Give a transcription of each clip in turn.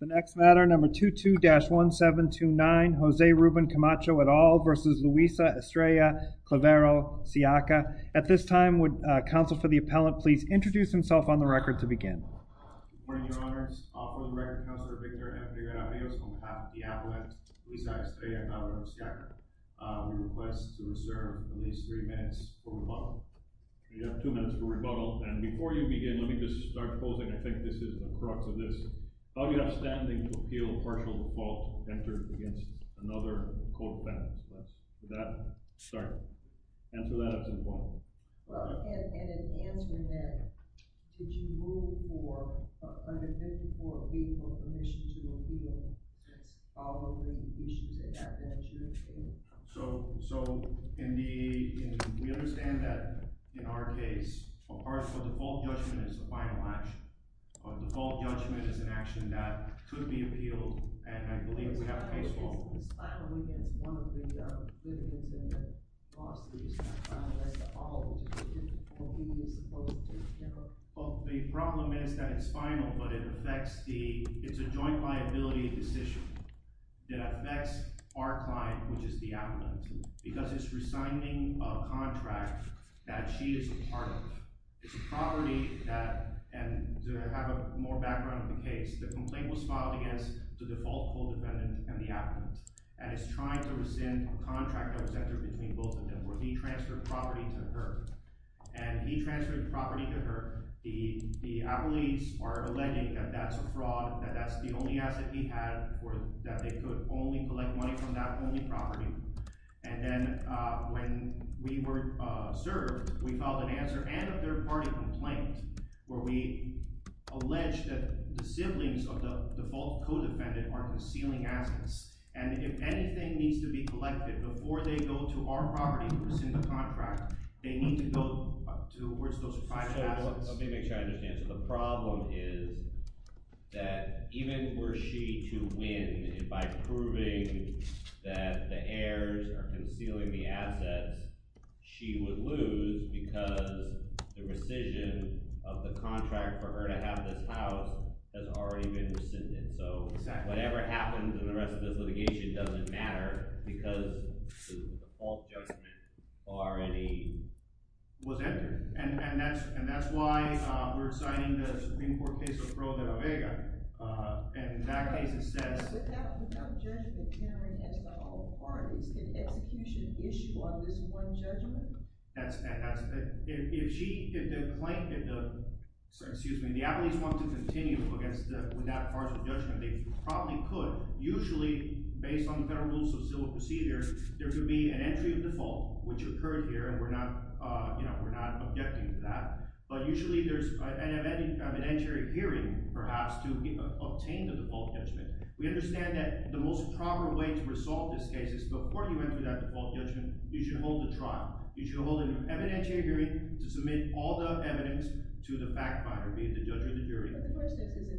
The next matter, number 22-1729, Jose Ruben Camacho et al. versus Luisa Estrella Claverol-Siaca. At this time, would counsel for the appellant please introduce himself on the record to begin? Good morning, your honors. On behalf of the record, Counselor Victor and Figueroa Rios, on behalf of the appellant, Luisa Estrella Claverol-Siaca, we request to reserve at least three minutes for rebuttal. You have two minutes for rebuttal. And before you begin, let me just start closing. I think this is the crux of this. How do you have standing to appeal partial default entered against another co-defendant? Let's get that started. Answer that up to the point. Well, and in answering that, did you rule for an admission to appeal following the issues that have been adjudicated? So we understand that, in our case, partial default judgment is the final action. Default judgment is an action that could be appealed. And I believe we have a case law. But it's not only against one of the other defendants and their bosses. It's not final against all of them. All people are supposed to appeal. Well, the problem is that it's final, but it's a joint liability decision that affects our client, which is the appellant, because it's resigning a contract that she is a part of. It's a property that, and to have a more background of the case, the complaint was filed against the default co-dependent and the appellant. And it's trying to rescind a contract that was entered between both of them, where he transferred property to her. And he transferred property to her. The appellees are alleging that that's a fraud, that that's the only asset he had, or that they could only collect money from that only property. And then when we were served, we filed an answer and a third-party complaint, where we alleged that the siblings of the default co-defendant are concealing assets. And if anything needs to be collected before they go to our property to rescind the contract, they need to go towards those private assets. So let me make sure I understand. So the problem is that even were she to win by proving that the heirs are concealing the assets, she would lose because the rescission of the contract for her to have this house has already been rescinded. So whatever happens in the rest of this litigation doesn't matter, because the default judgment already was entered. And that's why we're citing the Supreme Court case of Pro de la Vega. And in that case, it says, without judgment, hearing has not all parties. Can execution issue on this one judgment? That's right. If she, if the plaintiff, excuse me, the applicant wanted to continue without partial judgment, they probably could. Usually, based on the Federal Rules of Civil Procedures, there could be an entry of default, which occurred here. And we're not objecting to that. But usually, there's an evidentiary hearing, perhaps, to obtain the default judgment. We understand that the most proper way to resolve this case is before you enter that default judgment, you should hold a trial. You should hold an evidentiary hearing to submit all the evidence to the fact finder, be it the judge or the jury. But the question is, is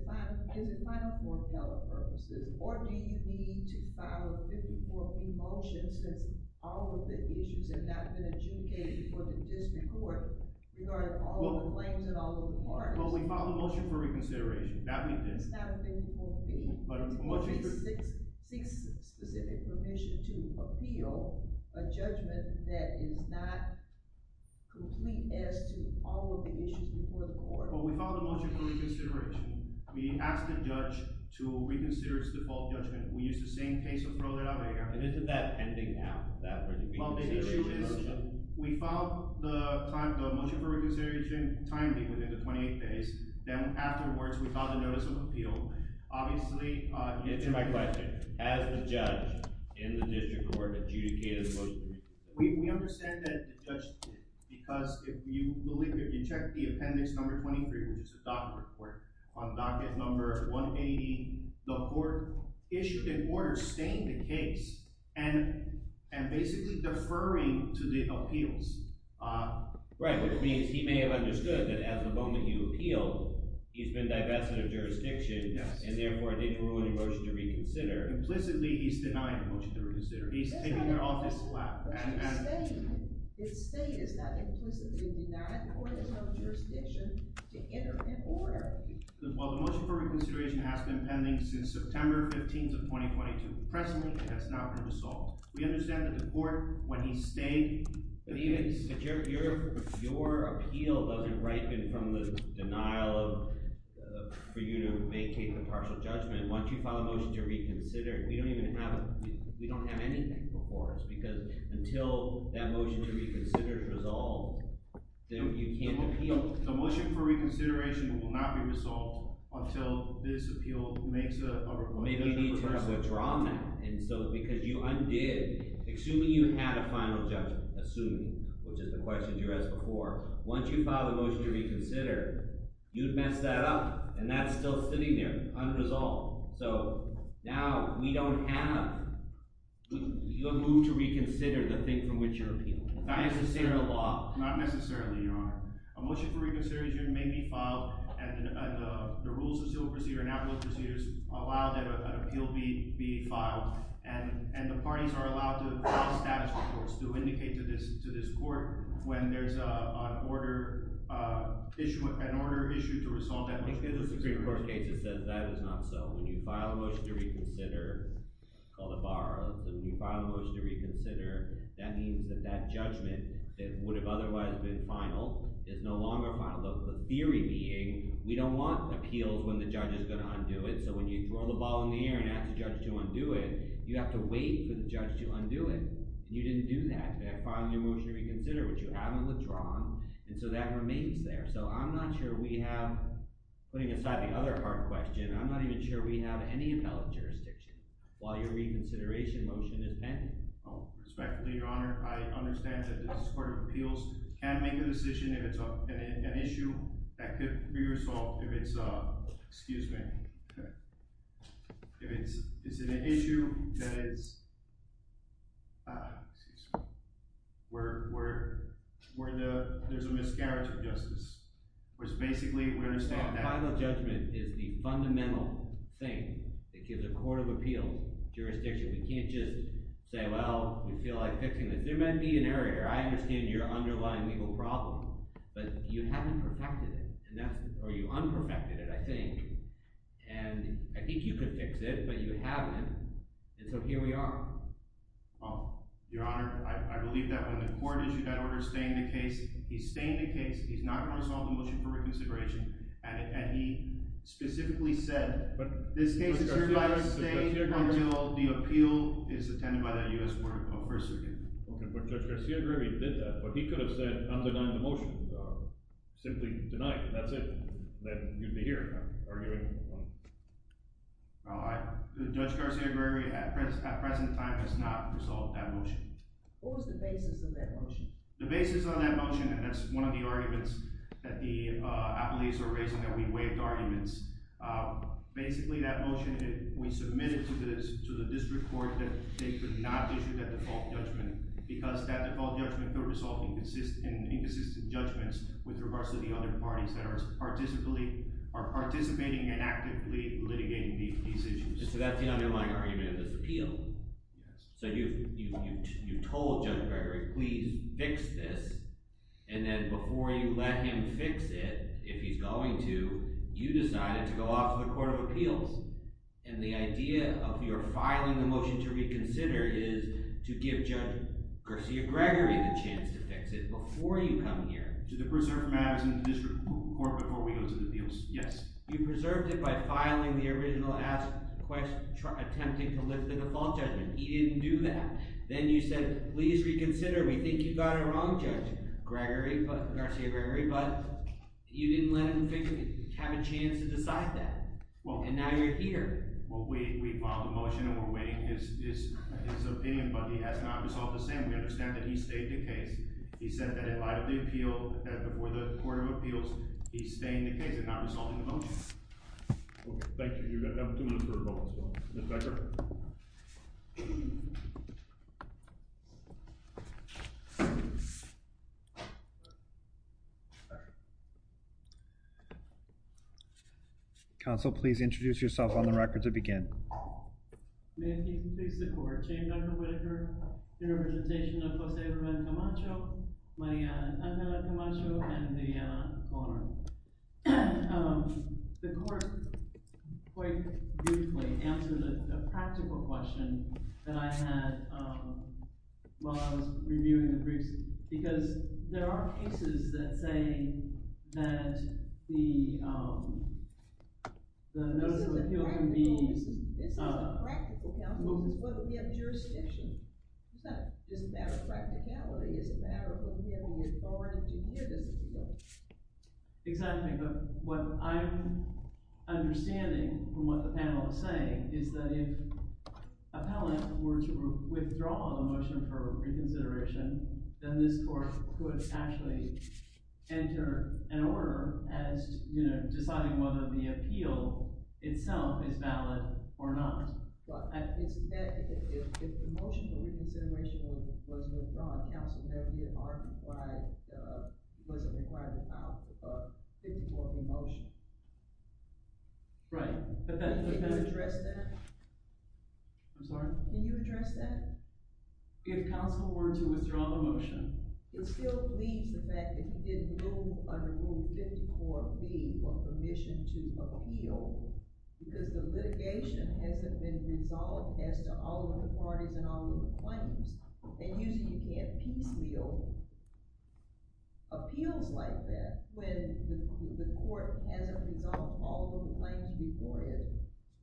it final for appellate purposes? Or do you need to file a 54-P motion, since all of the issues have not been adjudicated before the district court, regarding all of the claims and all of the parties? Well, we filed a motion for reconsideration. That we did. It's not a 54-P. But a motion for reconsideration. It's a 46-specific permission to appeal a judgment that is not complete as to all of the issues before the court. Well, we filed a motion for reconsideration. We asked the judge to reconsider its default judgment. We used the same case approval that I made. And isn't that pending now, that reconsideration motion? Well, the issue is, we filed the motion for reconsideration timely, within the 28 days. Then afterwards, we filed a notice of appeal. Obviously, to answer my question, has the judge in the district court adjudicated the motion? We understand that the judge did. Because if you check the appendix number 23, which is the docket report, on docket number 180, the court issued an order stating the case and basically deferring to the appeals. Right. Which means he may have understood that at the moment you appealed, he's been divested of jurisdiction. And therefore, it didn't ruin a motion to reconsider. Implicitly, he's denying a motion to reconsider. He's taking it off his lap. His state has not implicitly denied the court has no jurisdiction to enter an order. Well, the motion for reconsideration has been pending since September 15 of 2022. Presently, it has not been resolved. We understand that the court, when he stayed, that your appeal doesn't ripen from the denial for you to make a partial judgment. Once you file a motion to reconsider, we don't have anything before us. Because until that motion to reconsider is resolved, you can't appeal. The motion for reconsideration will not be resolved until this appeal makes a motion to resolve. Maybe you need to draw that. And so because you undid, assuming you had a final judgment, assuming, which is the question you asked before, once you file a motion to reconsider, you'd mess that up. And that's still sitting there unresolved. So now, we don't have a move to reconsider the thing from which you're appealing. Not necessarily a law. Not necessarily, Your Honor. A motion for reconsideration may be filed. And the rules of civil procedure and appellate procedures allow that an appeal be filed. And the parties are allowed to file status reports to indicate to this court when there's an order issued to resolve that motion. The Supreme Court case, it says that is not so. When you file a motion to reconsider, called a bar, when you file a motion to reconsider, that means that that judgment that would have otherwise been final is no longer final. The theory being, we don't want appeals when the judge is going to undo it. So when you throw the ball in the air and ask the judge to undo it, you have to wait for the judge to undo it. And you didn't do that. You had to file a new motion to reconsider, which you haven't withdrawn. And so that remains there. So I'm not sure we have, putting aside the other part of the question, I'm not even sure we have any appellate jurisdiction while your reconsideration motion is pending. Respectfully, Your Honor, I understand that this Court of Appeals can make a decision if it's an issue that could be resolved if it's a, excuse me, if it's an issue that is, excuse me, where there's a miscarriage of justice, which basically, we understand that. A final judgment is the fundamental thing that gives a Court of Appeals jurisdiction. We can't just say, well, we feel like fixing this. There might be an error here. I understand your underlying legal problem. But you haven't perfected it, or you unperfected it, I think. And I think you could fix it, but you haven't. And so here we are. Oh, Your Honor, I believe that when the court issued that order to stay in the case, he's staying in the case. He's not going to resolve the motion for reconsideration. And he specifically said, but this case is going to stay here until the appeal is attended by the U.S. Court of Persecution. OK, but Judge Garcia-Grevy did that. But he could have said, I'm denying the motion. Simply deny it. That's it. Then you'd be here, arguing on it. Judge Garcia-Grevy, at present time, has not resolved that motion. What was the basis of that motion? The basis of that motion, and that's one of the arguments that the appealees were raising, that we waived arguments. Basically, that motion, we submitted to the district court that they could not issue that default judgment, because that default judgment could result in inconsistent judgments with regards to the other parties that are participating and actively litigating these issues. So that's the underlying argument of this appeal. So you told Judge Grevy, please fix this. And then before you let him fix it, if he's going to, you decided to go off to the Court of Appeals. And the idea of your filing the motion to reconsider is to give Judge Garcia-Grevy the chance to fix it before you come here. To preserve matters in the district court before we go to the appeals, yes. You preserved it by filing the original asked question, attempting to lift the default judgment. He didn't do that. Then you said, please reconsider. We think you got it wrong, Judge Garcia-Grevy. But you didn't let him have a chance to decide that. And now you're here. Well, we filed the motion, and we're waiting his opinion. But he has not resolved the same. We understand that he stayed the case. He said that he filed the appeal before the Court of Appeals. He's staying the case and not resolving the motion. OK. Thank you. You've got two minutes for a vote as well. Ms. Becker? Counsel, please introduce yourself on the record to begin. May I please please the court. Chair Dr. Whittaker, in representation of Jose Ruben Camacho, Mariana Angela Camacho, and Viviana Conard. The court quite beautifully answered a practical question that I had while I was reviewing the briefs. Because there are cases that say that the notice of appeal is a practical counsel, because what would be of jurisdiction? It's not just a matter of practicality. It's a matter of when we have an authority to hear this. Exactly. But what I'm understanding from what the panel is saying is that if appellant were to withdraw the motion for reconsideration, then this court could actually enter an order as deciding whether the appeal itself is valid or not. But if the motion for reconsideration was withdrawn, counsel would never be able to argue why it wasn't required to file a 50-quarter motion. Right. Can you address that? I'm sorry? Can you address that? If counsel were to withdraw the motion. It still leaves the fact that you didn't rule under Rule 50-4B for permission to appeal, because the litigation hasn't been resolved as to all of the parties and all of the claims. And usually, you can't piecemeal appeals like that when the court hasn't resolved all of the claims before it.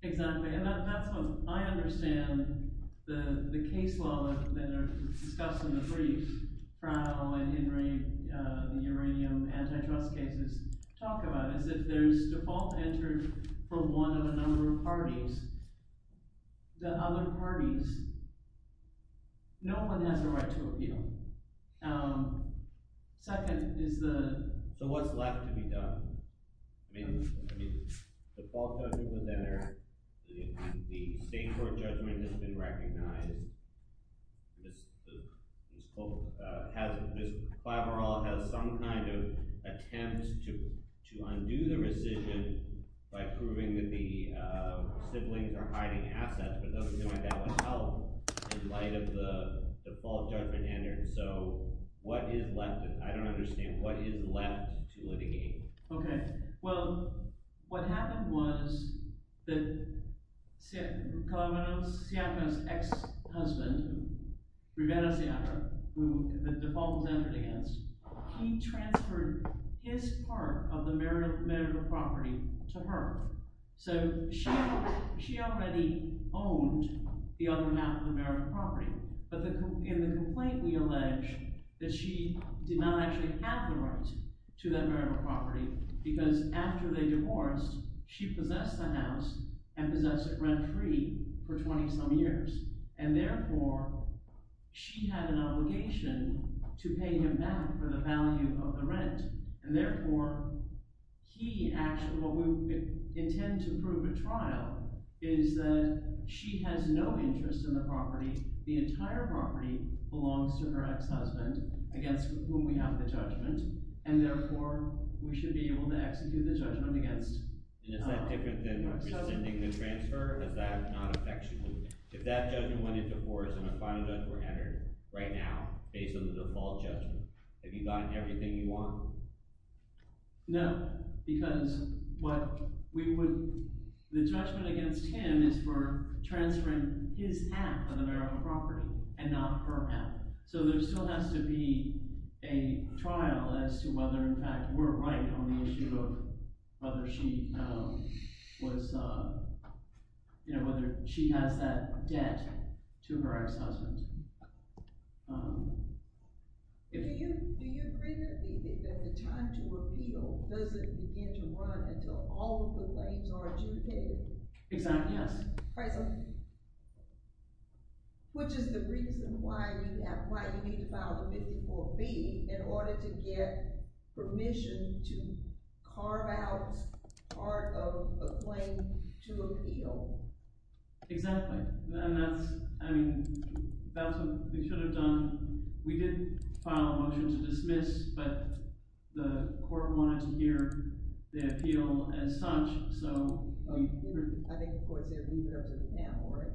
Exactly. And that's what I understand the case law that are discussed in the briefs. What Crowell and Henry, the uranium antitrust cases, talk about is that there's default entered for one of a number of parties. The other parties, no one has the right to appeal. Second is the. So what's left to be done? I mean, the default judgment was entered. The state court judgment has been recognized. This court has some kind of attempt to undo the rescission by proving that the siblings are hiding assets. But that would help in light of the default judgment entered. So what is left? I don't understand. What is left to litigate? OK. Well, what happened was that Calamaro's ex-husband, Rivera Sierra, who the default was entered against, he transferred his part of the marital property to her. So she already owned the other half of the marital property. But in the complaint, we allege that she did not actually have the rights to that marital property because after they divorced, she possessed the house and possessed it rent-free for 20-some years. And therefore, she had an obligation to pay him back for the value of the rent. And therefore, he actually, what we intend to prove at trial is that she has no interest in the property. The entire property belongs to her ex-husband, against whom we have the judgment. And therefore, we should be able to execute the judgment against her ex-husband. And is that different than rescinding the transfer? Is that not affectionate? If that judgment went into force and a final judgment were entered right now, based on the default judgment, have you gotten everything you want? No, because what we would, the judgment against him is for transferring his half of the marital property and not her half. So there still has to be a trial as to whether, in fact, we're right on the issue of whether she has that debt to her ex-husband. Do you agree that the time to appeal doesn't begin to run until all of the claims are adjudicated? Exactly, yes. President, which is the reason why you need to file a 54B, in order to get permission to carve out part of a claim to appeal? Exactly, and that's what we should have done. We did file a motion to dismiss, but the court wanted to hear the appeal as such. I think the court said leave it up to the panel, right?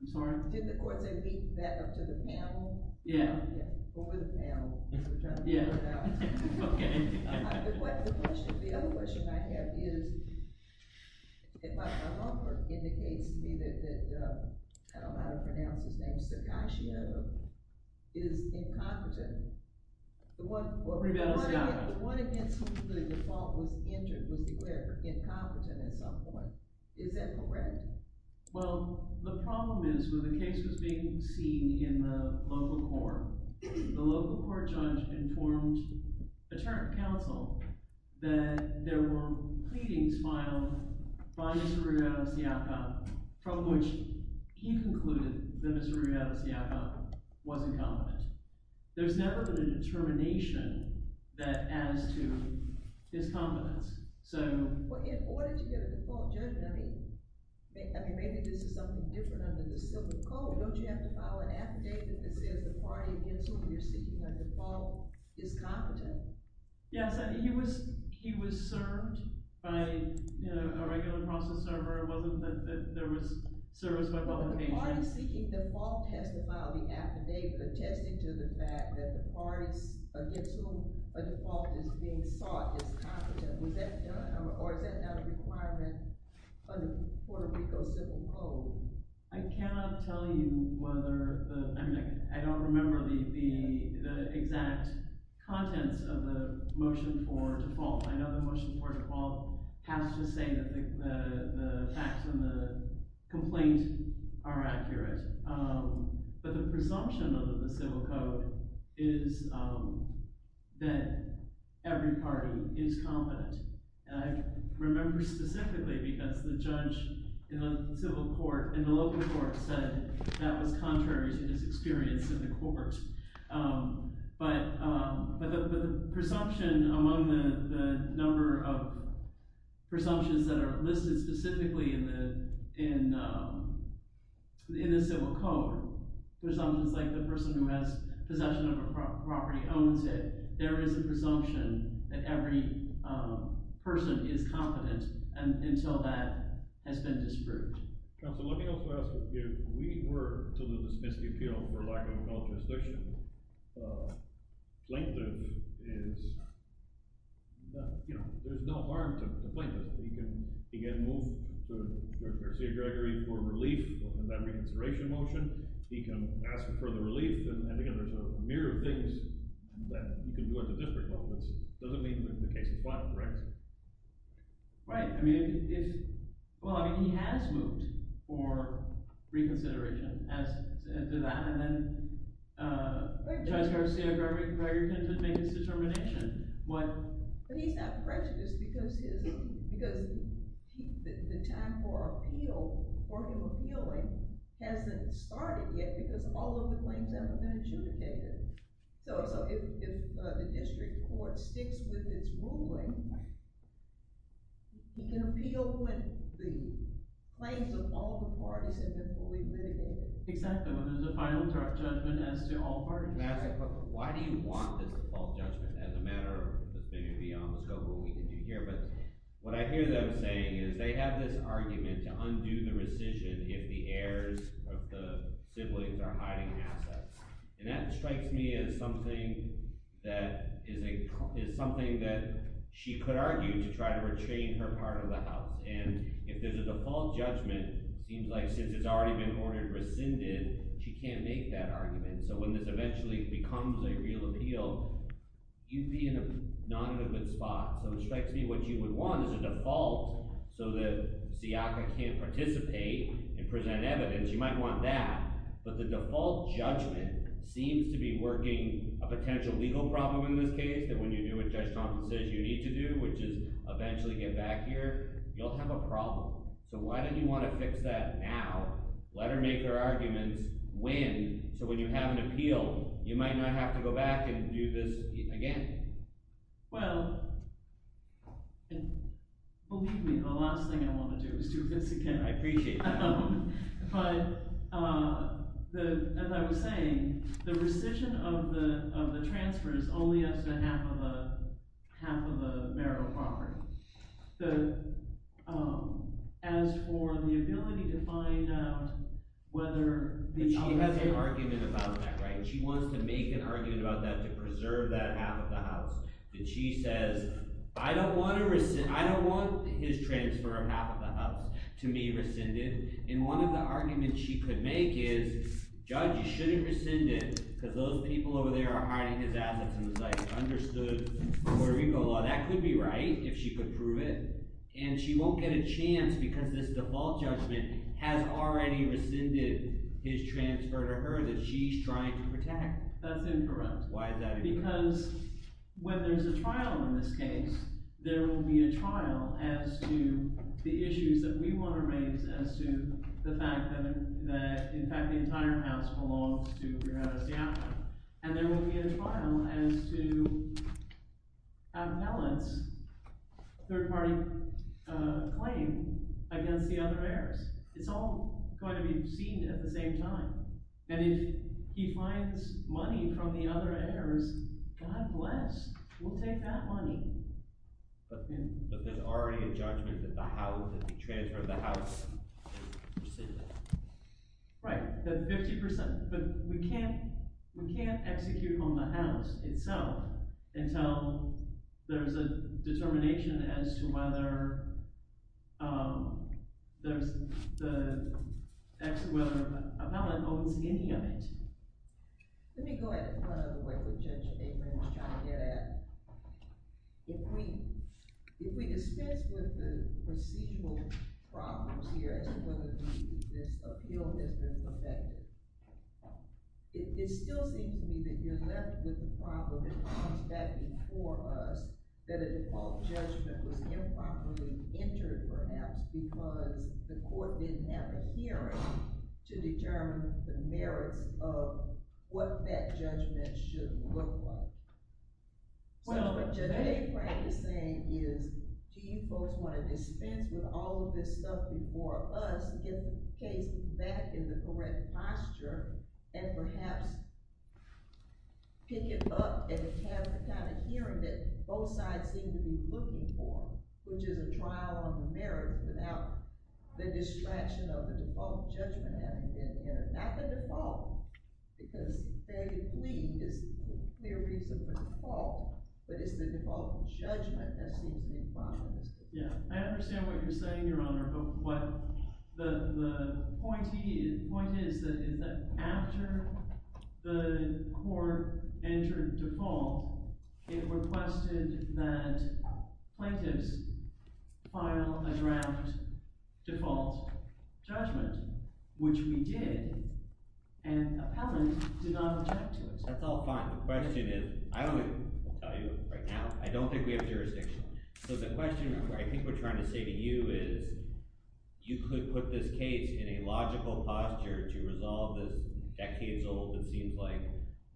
I'm sorry? Did the court say leave that up to the panel? Yeah. Yeah, or the panel, as we're trying to figure it out. Yeah, OK. The other question I have is, if my law firm indicates to me that, I don't know how to pronounce his name, Sacascio is incompetent, the one against whom the default was entered was declared incompetent at some point, is that correct? Well, the problem is, when the case was being seen in the local court, the local court judge informed attorney counsel that there were pleadings filed by Mr. Rueda-Sacascio, from which he concluded that Mr. Rueda-Sacascio was incompetent. There's never been a determination that adds to his competence. Well, in order to get a default judgment, I mean, maybe this is something different under the civil code. Don't you have to file an affidavit that says the party against whom you're seeking a default is competent? Yes, he was served by a regular process server. It wasn't that there was service by public agent. The party seeking default has to file the affidavit attesting to the fact that the parties against whom a default is being sought is competent. Or is that not a requirement under Puerto Rico's civil code? I cannot tell you whether the, I mean, I don't remember the exact contents of the motion for default. I know the motion for default has to say that the facts in the complaint are accurate. But the presumption under the civil code is that every party is competent. And I remember specifically because the judge in the civil court, in the local court, said that was contrary to his experience in the court. But the presumption among the number of presumptions that are listed specifically in the civil code, presumptions like the person who has possession of a property owns it, there is a presumption that every person is competent until that has been disproved. Counsel, let me also ask if we were to lose this misdemeanor for lack of a constitutional plaintiff, there's no harm to the plaintiff. He can move to Judge Garcia-Gregory for relief in that reconsideration motion. He can ask for further relief. And again, there's a myriad of things that he can do at the different levels. It doesn't mean that the case is final, correct? Right, I mean, he has moved for reconsideration as to that. And then Judge Garcia-Gregory can make his determination. But he's not prejudiced because the time for appeal, for him appealing, hasn't started yet because all of the claims haven't been adjudicated. So if the district court sticks with its ruling, he can appeal when the claims of all the parties have been fully litigated. Exactly, when there's a final judgment as to all parties. Why do you want this default judgment as a matter of affinity on the scope of what we can do here? But what I hear them saying is they have this argument to undo the rescission if the heirs of the siblings are hiding assets. And that strikes me as something that is something that she could argue to try to retrain her part of the house. And if there's a default judgment, seems like since it's already been ordered rescinded, she can't make that argument. So when this eventually becomes a real appeal, you'd be not in a good spot. So it strikes me what you would want is a default so that Siaka can't participate and present evidence. You might want that. But the default judgment seems to be working a potential legal problem in this case, that when you do what Judge Thompson says you need to do, which is eventually get back here, you'll have a problem. So why do you want to fix that now? Lettermaker arguments win. So when you have an appeal, you might not have to go back and do this again. Well, believe me, the last thing I want to do is do this again. I appreciate that. But as I was saying, the rescission of the transfer is only up to half of the marital property. As for the ability to find out whether the owners have an argument about that, right? She wants to make an argument about that to preserve that half of the house. And she says, I don't want his transfer of half of the house to be rescinded. And one of the arguments she could make is, Judge, you shouldn't rescind it, because those people over there are hiding his assets. And it's like, I understood Puerto Rico law. That could be right, if she could prove it. And she won't get a chance, because this default judgment has already rescinded his transfer to her that she's trying to protect. That's incorrect. Why is that? Because when there's a trial in this case, there will be a trial as to the issues that we want to raise as to the fact that, in fact, the entire house belongs to Rivera-Siafra. And there will be a trial as to Appellant's third-party claim against the other heirs. It's all going to be seen at the same time. And if he finds money from the other heirs, God bless. We'll take that money. But there's already a judgment that the house, that the transfer of the house is rescinded. Right, that 50%. But we can't execute on the house itself until there's a determination as to whether there's the, as to whether Appellant owns any of it. Let me go ahead and run out of the way with Judge Avery and try to get at, if we dispense with the procedural problems here as to whether this appeal has been perfected, it still seems to me that you're left with the problem that comes back before us, that a default judgment was improperly entered, perhaps, because the court didn't have a hearing to determine the merits of what that judgment should look like. So what Judge Avery is saying is, do you folks want to dispense with all of this stuff before us, get the case back in the correct posture, and perhaps pick it up and have the kind of hearing that both sides seem to be looking for, which is a trial on the merits without the distraction of the default judgment having been entered? Not the default, because fairly pleading is the clear reason for default, but it's the default judgment that seems to be improper. Yeah, I understand what you're saying, Your Honor. But the point is that after the court entered default, it requested that plaintiffs file a draft default judgment, which we did. And appellant did not object to it. That's all fine. The question is, I only tell you right now, I don't think we have jurisdiction. So the question I think we're trying to say to you is, you could put this case in a logical posture to resolve this decades-old, it seems like,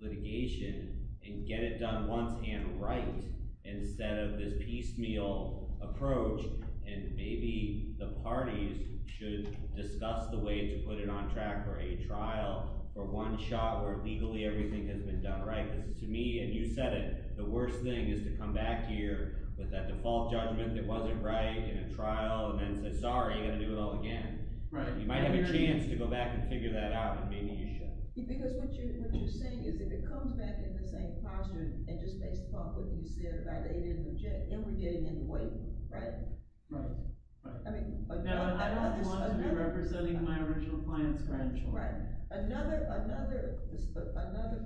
litigation and get it done once and right, instead of this piecemeal approach. And maybe the parties should discuss the way to put it on track for a trial, for one shot, where legally everything has been done right. Because to me, and you said it, the worst thing is to come back here with that default judgment that wasn't right in a trial, and then say, sorry, you've got to do it all again. You might have a chance to go back and figure that out, and maybe you shouldn't. Because what you're saying is, if it comes back in the same posture, and just based upon what you said, right, they didn't object, then we're getting in the way, right? Right. I mean, I don't want this to be representing my original client's grandchild. Right. Another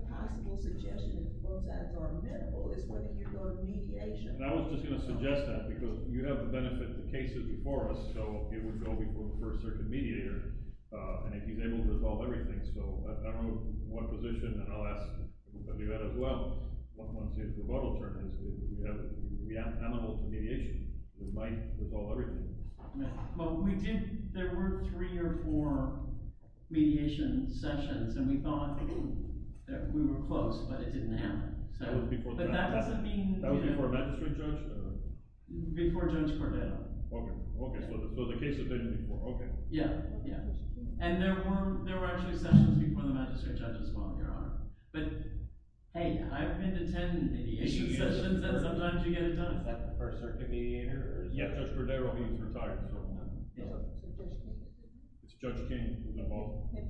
possible suggestion, and both sides are amenable, is whether you go to mediation. I was just going to suggest that, because you have the benefit of the cases before us. So it would go before the first circuit mediator, and if he's able to resolve everything. So I don't know what position, and I'll ask you that as well, once the vote will turn, is we are amenable to mediation. We might resolve everything. Well, we did. There were three or four mediation sessions, and we thought that we were close, but it didn't happen. That was before the magistrate. Before Judge Cordero. OK. So the case attended before. OK. Yeah. Yeah. And there were actually sessions before the magistrate judge as well, Your Honor. But hey, I've been to 10 mediation sessions, and sometimes you get it done. Is that the first circuit mediator? Yeah, Judge Cordero, he's retired at the moment. It's Judge King from the vote. OK.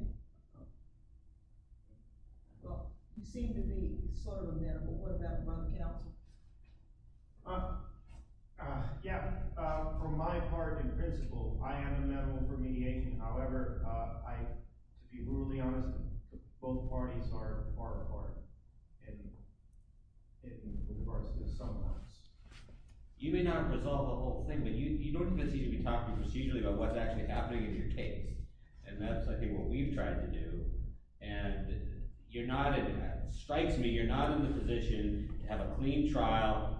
Well, you seem to be sort of amenable. What about from the counsel? Yeah. From my part and principle, I am amenable for mediation. However, to be really honest, both parties are a part of it. And it can be hard sometimes. You may not resolve the whole thing, but you don't seem to be talking procedurally about what's actually happening in your case. And that's, I think, what we've tried to do. And you're not, it strikes me, you're not in the position to have a clean trial.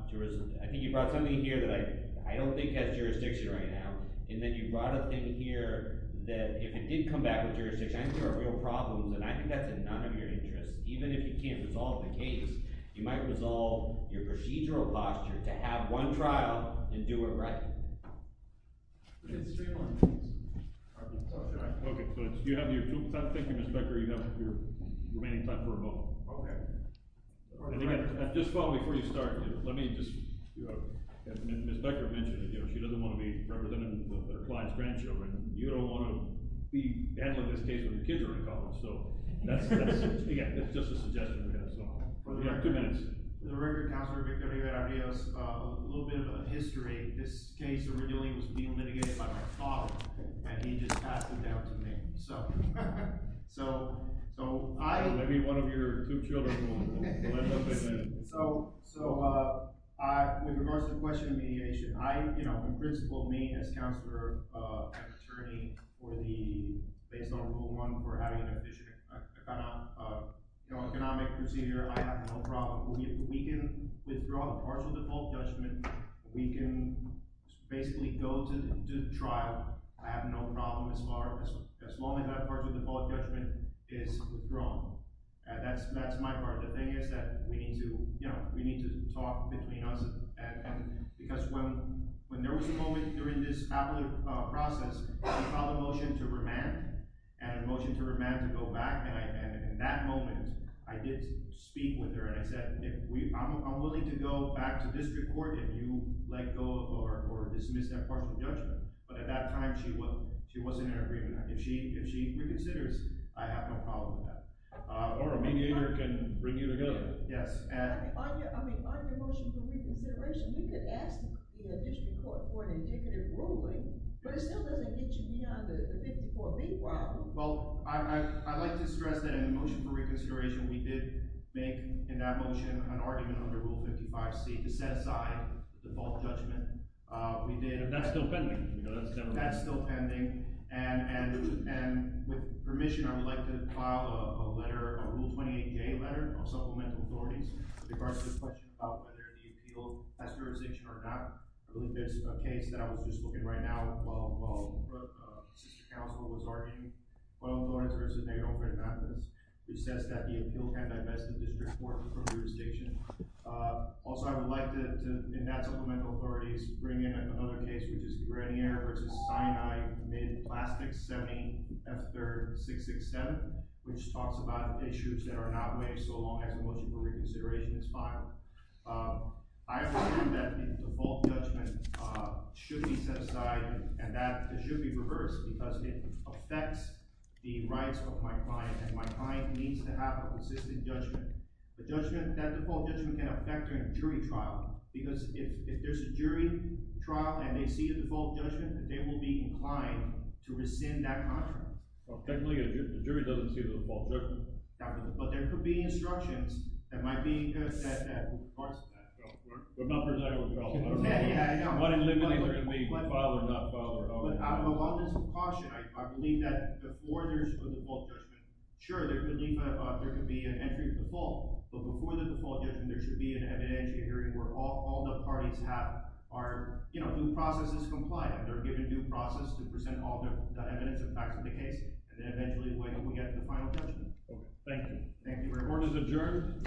I think you brought something here that I don't think has jurisdiction right now. And then you brought a thing here that, if it did come back with jurisdiction, I think there are real problems. And I think that's in none of your interest. Even if you can't resolve the case, you might resolve your procedural posture to have one trial and do it right. Mr. Strayhorn, please. OK, so you have your two minutes. Thank you, Mr. Becker. You have your remaining time for a vote. OK. Just before we start, let me just, as Ms. Becker mentioned, she doesn't want to be representing her client's grandchildren. You don't want to be handling this case when the kids are in college. So that's just a suggestion we have. So you have two minutes. The record, Counselor Becker, you had ideas, a little bit of a history. This case originally was being litigated by my father. And he just passed it down to me. So I'm going to be one of your two children. So with regards to the question of mediation, I, in principle, me as counselor and attorney, or based on rule one, we're having an economic procedure. I have no problem. We can withdraw the partial default judgment. We can basically go to the trial. I have no problem as far as as long as that partial default judgment is withdrawn. That's my part. The thing is that we need to talk between us. Because when there was a moment during this appellate process, we filed a motion to remand and a motion to remand to go back. And in that moment, I did speak with her. And I said, I'm willing to go back to district court if you let go or dismiss that partial judgment. But at that time, she wasn't in agreement. If she reconsiders, I have no problem with that. Or a mediator can bring you together. Yes, and? On your motion for reconsideration, you could ask the district court for an indicative ruling. But it still doesn't get you beyond the 54B problem. Well, I'd like to stress that in the motion for reconsideration, we did make, in that motion, an argument under Rule 55C to set aside the default judgment. That's still pending. That's still pending. That's still pending. And with permission, I would like to file a letter, a Rule 28A letter of supplemental authorities with regards to the question about whether the appeal has jurisdiction or not. I believe there's a case that I was just looking at right now while sister counsel was arguing, Boyle-Thornes v. Nagle-Francis, which says that the appeal can't divest the district court from jurisdiction. Also, I would like to, in that supplemental authorities, bring in another case, which is Grenier v. Sinai, mid-plastic, 70F3-667, which talks about issues that are not waived so long as a motion for reconsideration is filed. I believe that the default judgment should be set aside. And that it should be reversed, because it affects the rights of my client. And my client needs to have a consistent judgment. That default judgment can affect a jury trial. Because if there's a jury trial, and they see a default judgment, then they will be inclined to rescind that contract. Technically, if the jury doesn't see the default judgment. But there could be instructions that might be good in regards to that. But not for Nagle-Francis. Yeah, yeah, I know. But I didn't limit it to file or not file. But out of a lot of caution, I believe that the orders for default judgment, sure, there could be an entry default. But before the default judgment, there should be an evidence hearing where all the parties are due process compliant. They're given due process to present all the evidence and facts of the case. And then eventually, we get to the final judgment. OK. Thank you. Thank you very much. Orders adjourned.